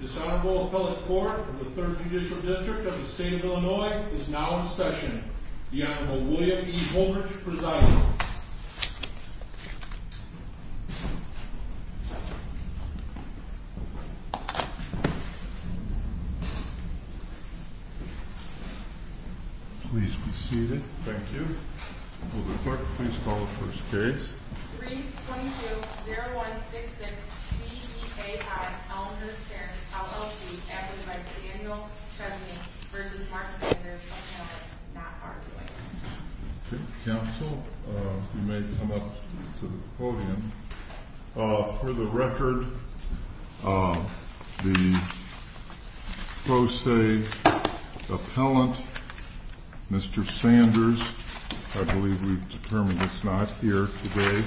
This Honorable Appellate Court of the 3rd Judicial District of the State of Illinois is now in session. The Honorable William E. Holbrook, presiding. Please be seated. Thank you. Will the attorney please call the first case? 322-0166 CEAI Elmhurst Terrace, LLC v. Daniel Chesney v. Mark Sanders, Appellate, not arguing. Counsel, you may come up to the podium. For the record, the pro se appellant, Mr. Sanders, I believe we've determined it's not here today.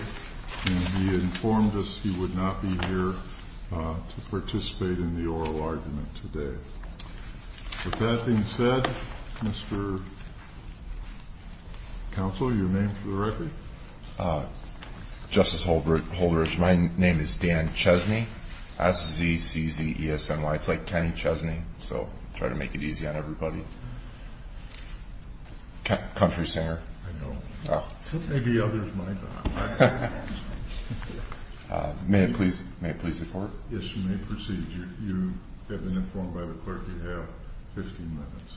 And he informed us he would not be here to participate in the oral argument today. With that being said, Mr. Counsel, your name for the record? Justice Holbrook, my name is Dan Chesney, S-E-C-Z-E-S-N-Y. It's like Kenny Chesney, so try to make it easy on everybody. Country singer. I know. Maybe others might not. May it please the Court? Yes, you may proceed. You have been informed by the clerk you have 15 minutes.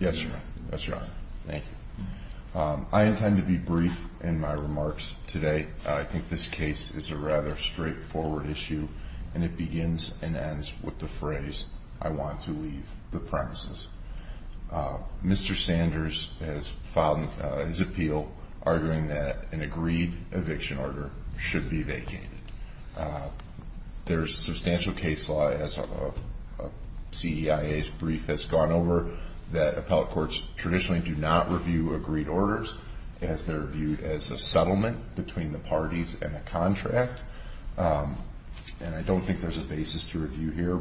Yes, Your Honor. Thank you. I intend to be brief in my remarks today. I think this case is a rather straightforward issue, and it begins and ends with the phrase, I want to leave the premises. Mr. Sanders has filed his appeal arguing that an agreed eviction order should be vacated. There's substantial case law, as CEIA's brief has gone over, that appellate courts traditionally do not review agreed orders, as they're viewed as a settlement between the parties and a contract. And I don't think there's a basis to review here.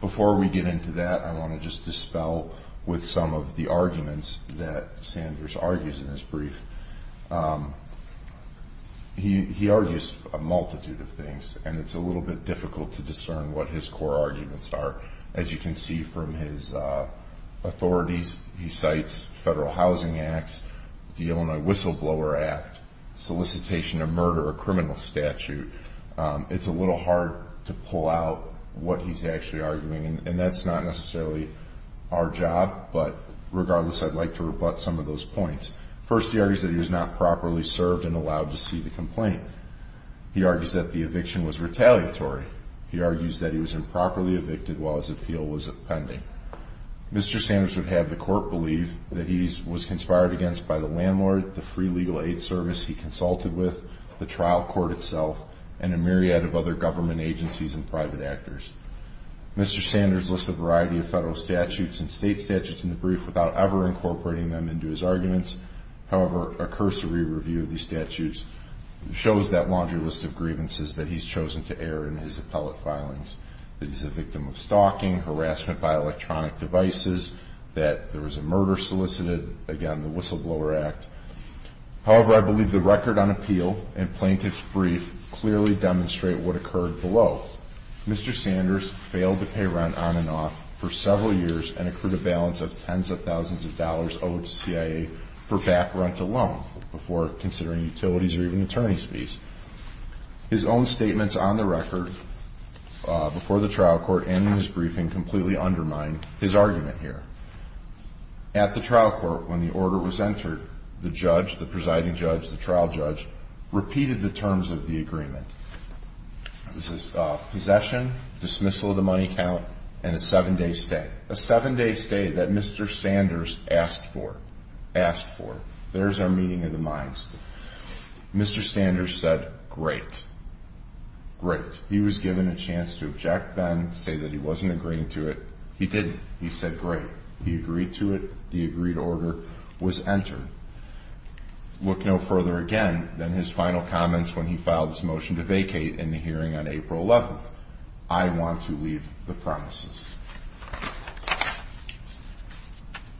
Before we get into that, I want to just dispel with some of the arguments that Sanders argues in his brief. He argues a multitude of things, and it's a little bit difficult to discern what his core arguments are. As you can see from his authorities, he cites federal housing acts, the Illinois Whistleblower Act, solicitation of murder or criminal statute. It's a little hard to pull out what he's actually arguing, and that's not necessarily our job, but regardless, I'd like to rebut some of those points. First, he argues that he was not properly served and allowed to see the complaint. He argues that the eviction was retaliatory. He argues that he was improperly evicted while his appeal was pending. Mr. Sanders would have the court believe that he was conspired against by the landlord, the free legal aid service he consulted with, the trial court itself, and a myriad of other government agencies and private actors. Mr. Sanders lists a variety of federal statutes and state statutes in the brief without ever incorporating them into his arguments. However, a cursory review of these statutes shows that laundry list of grievances that he's chosen to air in his appellate filings, that he's a victim of stalking, harassment by electronic devices, that there was a murder solicited, again, the Whistleblower Act. However, I believe the record on appeal and plaintiff's brief clearly demonstrate what occurred below. Mr. Sanders failed to pay rent on and off for several years and accrued a balance of tens of thousands of dollars owed to CIA for back rent alone before considering utilities or even attorney's fees. His own statements on the record before the trial court and in his briefing completely undermine his argument here. At the trial court, when the order was entered, the judge, the presiding judge, the trial judge, repeated the terms of the agreement. This is possession, dismissal of the money count, and a seven-day stay. A seven-day stay that Mr. Sanders asked for. Asked for. There's our meeting of the minds. Mr. Sanders said, great. Great. He was given a chance to object, then say that he wasn't agreeing to it. He didn't. He said, great. He agreed to it. The agreed order was entered. Look no further again than his final comments when he filed his motion to vacate in the hearing on April 11th. I want to leave the promises.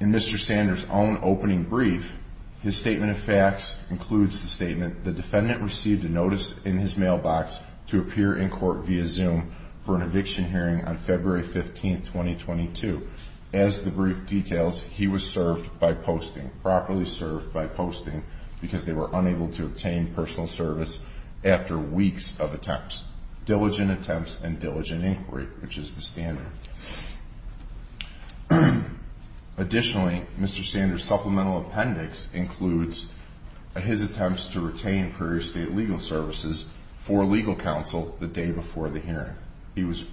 In Mr. Sanders' own opening brief, his statement of facts includes the statement, the defendant received a notice in his mailbox to appear in court via Zoom for an eviction hearing on February 15th, 2022. As the brief details, he was served by posting. Properly served by posting because they were unable to obtain personal service after weeks of attempts. Diligent attempts and diligent inquiry, which is the standard. Additionally, Mr. Sanders' supplemental appendix includes his attempts to retain prior state legal services for legal counsel the day before the hearing. He was,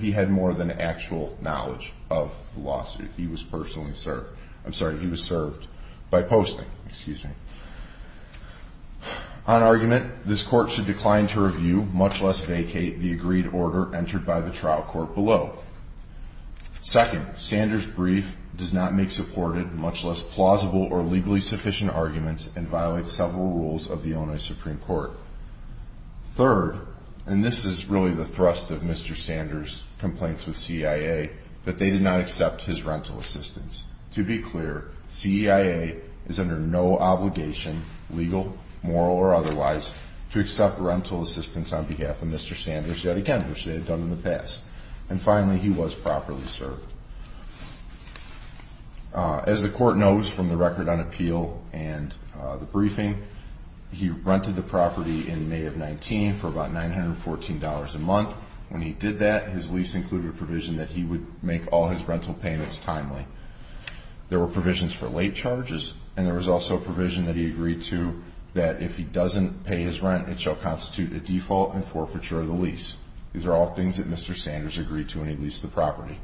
he had more than actual knowledge of the lawsuit. He was personally served. I'm sorry. He was served by posting, excuse me. On argument, this court should decline to review, much less vacate the agreed order entered by the trial court below. Second, Sanders' brief does not make supported, much less plausible or legally sufficient arguments and violate several rules of the Illinois Supreme Court. Third, and this is really the thrust of Mr. Sanders' complaints with CEIA, that they did not accept his rental assistance. To be clear, CEIA is under no obligation, legal, moral, or otherwise, to accept rental assistance on behalf of Mr. Sanders, yet again, which they had done in the past. And finally, he was properly served. As the court knows from the record on appeal and the briefing, he rented the property in May of 19 for about $914 a month. When he did that, his lease included a provision that he would make all his rental payments timely. There were provisions for late charges, and there was also a provision that he agreed to that if he doesn't pay his rent, it shall constitute a default and forfeiture of the lease. These are all things that Mr. Sanders agreed to when he leased the property.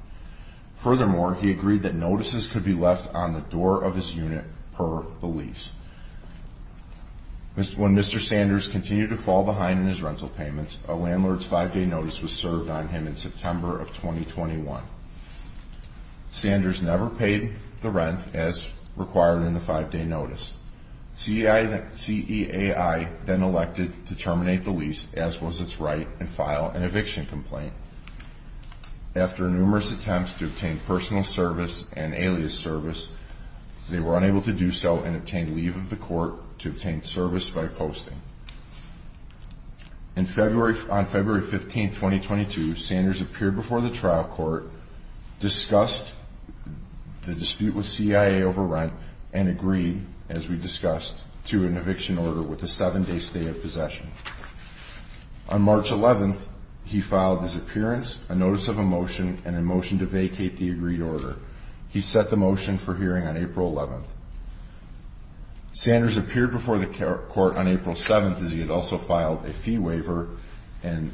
Furthermore, he agreed that notices could be left on the door of his unit per the lease. When Mr. Sanders continued to fall behind in his rental payments, a landlord's five-day notice was served on him in September of 2021. Sanders never paid the rent as required in the five-day notice. CEIA then elected to terminate the lease, as was its right, and file an eviction complaint. After numerous attempts to obtain personal service and alias service, they were unable to do so and obtained leave of the court to obtain service by posting. On February 15, 2022, Sanders appeared before the trial court, discussed the dispute with CEIA over rent, and agreed, as we discussed, to an eviction order with a seven-day stay of possession. On March 11, he filed his appearance, a notice of a motion, and a motion to vacate the agreed order. He set the motion for hearing on April 11. Sanders appeared before the court on April 7, as he had also filed a fee waiver and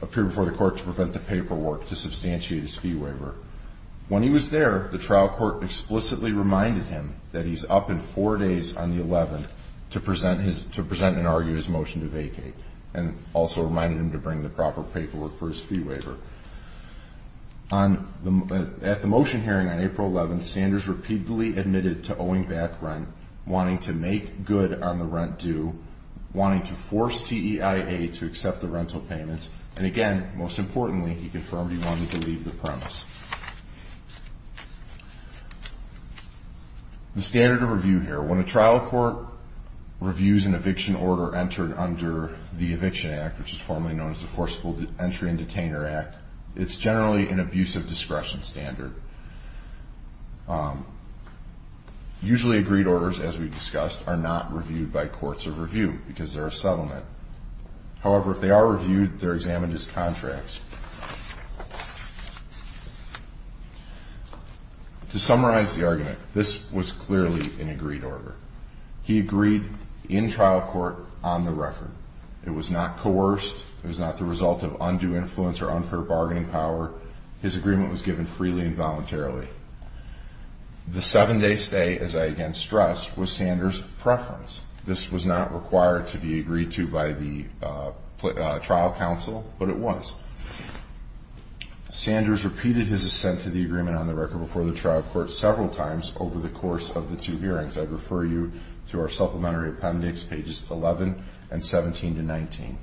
appeared before the court to prevent the paperwork to substantiate his fee waiver. When he was there, the trial court explicitly reminded him that he's up in four days on the 11th to present and argue his motion to vacate, and also reminded him to bring the proper paperwork for his fee waiver. At the motion hearing on April 11, Sanders repeatedly admitted to owing back rent, wanting to make good on the rent due, wanting to force CEIA to accept the rental payments, and again, most importantly, he confirmed he wanted to leave the premise. The standard of review here, when a trial court reviews an eviction order entered under the Eviction Act, which is formally known as the Forcible Entry and Detainer Act, it's generally an abuse of discretion standard. Usually agreed orders, as we discussed, are not reviewed by courts of review, because they're a settlement. However, if they are reviewed, they're examined as contracts. To summarize the argument, this was clearly an agreed order. He agreed in trial court on the record. It was not coerced. It was not the result of undue influence or unfair bargaining power. His agreement was given freely and voluntarily. The seven-day stay, as I again counsel, but it was. Sanders repeated his assent to the agreement on the record before the trial court several times over the course of the two hearings. I refer you to our supplementary appendix, pages 11 and 17 to 19.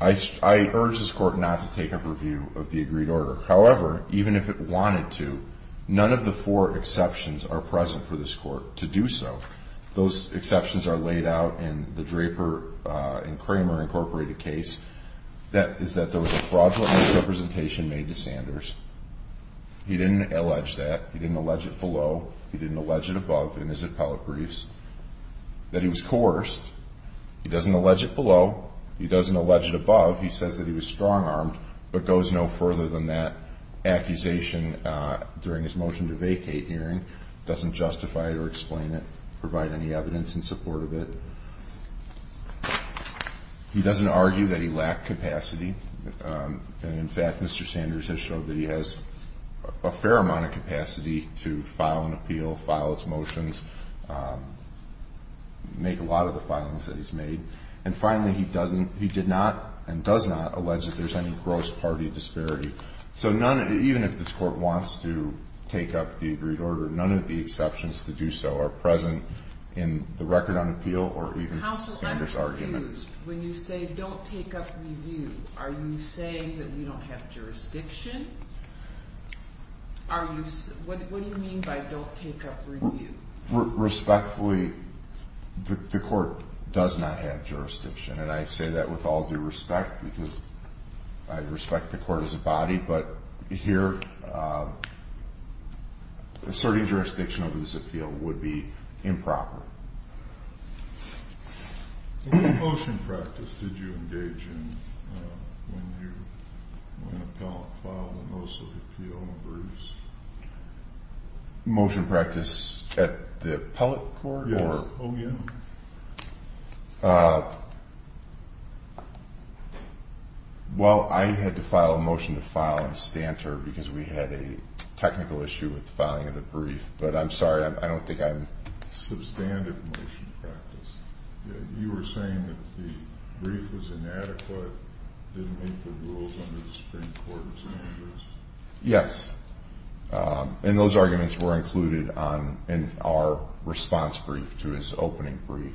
I urge this Court not to take up review of the agreed order. However, even if it wanted to, none of the four exceptions are present for this Court to do so. Those exceptions are laid out in the Draper and Kramer, Inc. case. That is that there was a fraudulent misrepresentation made to Sanders. He didn't allege that. He didn't allege it below. He didn't allege it above in his appellate briefs. That he was coerced. He doesn't allege it below. He doesn't allege it above. He says that he was strong-armed, but he goes no further than that accusation during his motion to vacate hearing. He doesn't justify it or explain it, provide any evidence in support of it. He doesn't argue that he lacked capacity. In fact, Mr. Sanders has shown that he has a fair amount of capacity to file an appeal, file his motions, make a lot of the filings that he's made. And finally, he did not and does not allege that there's any gross party disparity. So even if this Court wants to take up the agreed order, none of the exceptions to do so are present in the record on appeal or even Sanders' argument. Counsel, I'm confused. When you say don't take up review, are you saying that you don't have jurisdiction? What do you mean by don't take up review? Respectfully, the Court does not have jurisdiction. And I say that with all due respect, because I respect the Court as a body. But here, asserting jurisdiction over this appeal would be improper. What motion practice did you engage in when the appellant filed the most of the appeal numbers? Motion practice at the appellate court? Yeah. Oh, yeah? Well, I had to file a motion to file in Stanter because we had a technical issue with filing of the brief. But I'm sorry, I don't think I'm— Substantive motion practice. You were saying that the brief was inadequate, didn't meet the rules under the Supreme Court of Sanders? Yes. And those arguments were included in our response brief to his opening brief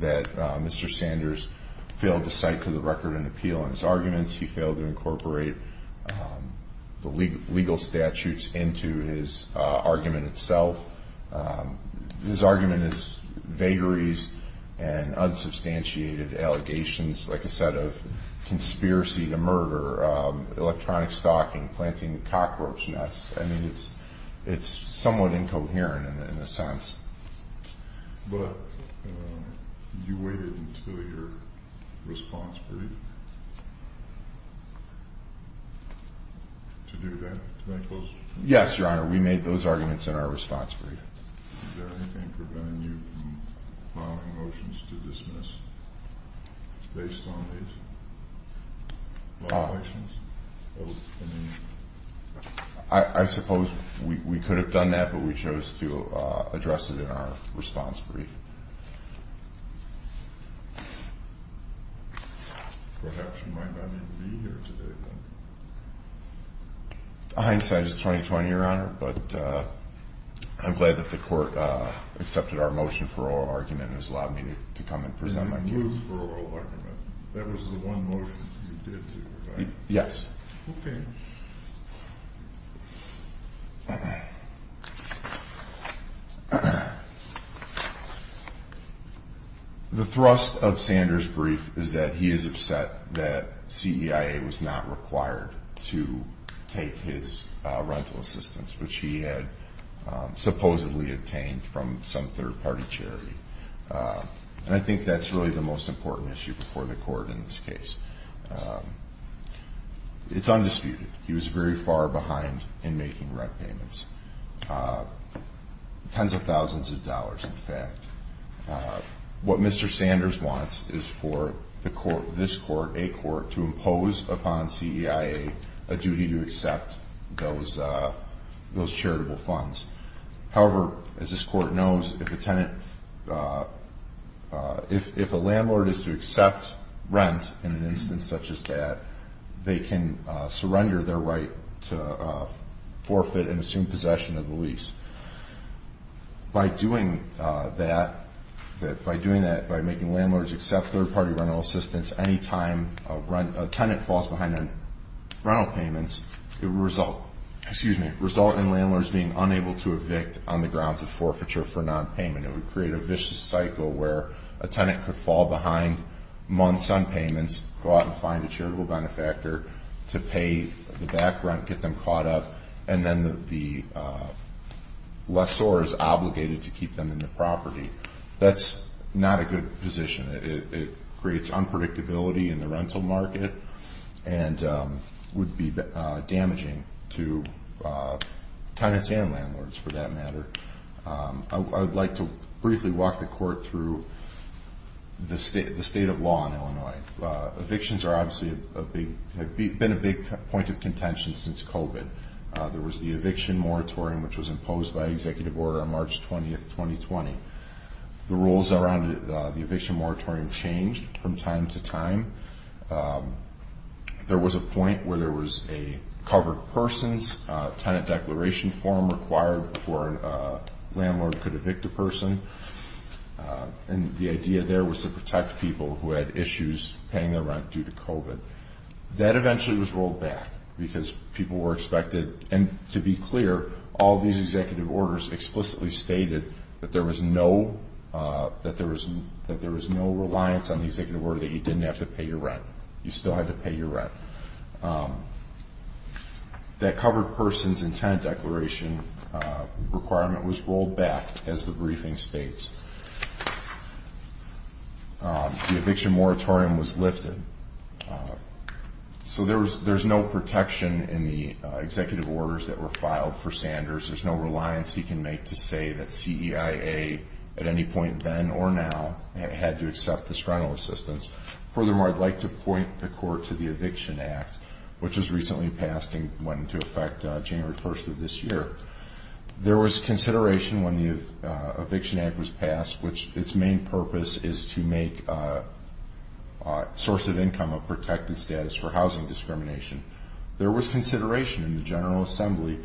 that Mr. Sanders failed to cite to the record an appeal on his arguments. He failed to incorporate the legal statutes into his argument itself. His argument is vagaries and unsubstantiated cockroach nests. I mean, it's somewhat incoherent in a sense. But you waited until your response brief to do that? Yes, Your Honor. We made those arguments in our response brief. Is there anything preventing you from filing motions to dismiss based on these arguments? I suppose we could have done that, but we chose to address it in our response brief. Perhaps you might not even be here today, then. Hindsight is 20-20, Your Honor. But I'm glad that the court accepted our motion for oral argument and has allowed me to come and present my case. You moved for oral argument. That was the one motion you did do, right? Yes. The thrust of Sanders' brief is that he is upset that CEIA was not required to take his rental assistance, which he had supposedly obtained from some third-party charity. And I think that's really the most important issue before the court in this case. It's undisputed. He was very far behind in making rent payments. Tens of thousands of dollars, in fact. What Mr. Sanders wants is for this court, a court, to impose upon CEIA a duty to accept those charitable funds. However, as this court knows, if a landlord is to accept rent in an instance such as that, they can surrender their right to forfeit and assume possession of the lease. By doing that, by making landlords accept third-party rental assistance any time a tenant falls behind on rental payments, it would result in landlords being unable to evict on the grounds of forfeiture for nonpayment. It would create a vicious cycle where a tenant could fall behind months on payments, go out and find a charitable benefactor to pay the back rent, get them caught up, and then the lessor is obligated to keep them in the property. That's not a good position. It creates unpredictability in the rental market and would be damaging to tenants and landlords, for that matter. I would like to briefly walk the court through the state of law in Illinois. Evictions have been a big point of contention since COVID. There was the eviction moratorium, which was imposed by executive order on March 20, 2020. The rules around the eviction moratorium changed from time to time. There was a point where there was a covered person's tenant form required before a landlord could evict a person. The idea there was to protect people who had issues paying their rent due to COVID. That eventually was rolled back because people were expected. To be clear, all these executive orders explicitly stated that there was no reliance on the executive order that you didn't have to pay your rent. You still had to pay your rent. The requirement was rolled back as the briefing states. The eviction moratorium was lifted. There's no protection in the executive orders that were filed for Sanders. There's no reliance he can make to say that CEIA, at any point then or now, had to accept this rental assistance. Furthermore, I'd like to point the court to the Eviction Act, which was recently passed and went into effect January 1st of this year. There was consideration when the Eviction Act was passed, which its main purpose is to make a source of income a protected status for housing discrimination. There was consideration in the General Assembly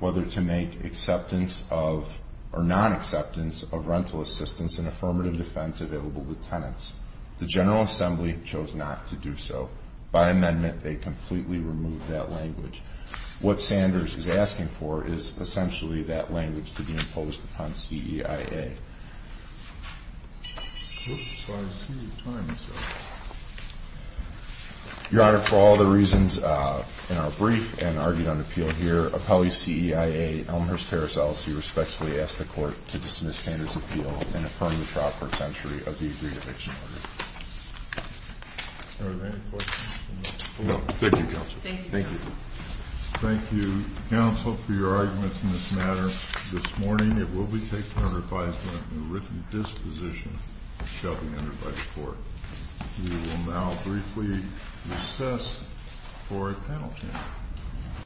whether to make acceptance of or non-acceptance of rental assistance and affirmative defense available to tenants. The General Assembly chose not to do so. By amendment, they completely removed that language. What Sanders is asking for is essentially that language to be imposed upon CEIA. Your Honor, for all the reasons in our brief and argued on appeal here, appellee CEIA, Elmhurst Harris-Ellis, he respectfully asks the court to dismiss Sanders' appeal and affirm the proper century of the agreed eviction order. Thank you, counsel, for your arguments in this matter. This morning, it will be taken under advisement and written disposition shall be entered by the court. We will now briefly recess for a panel chance.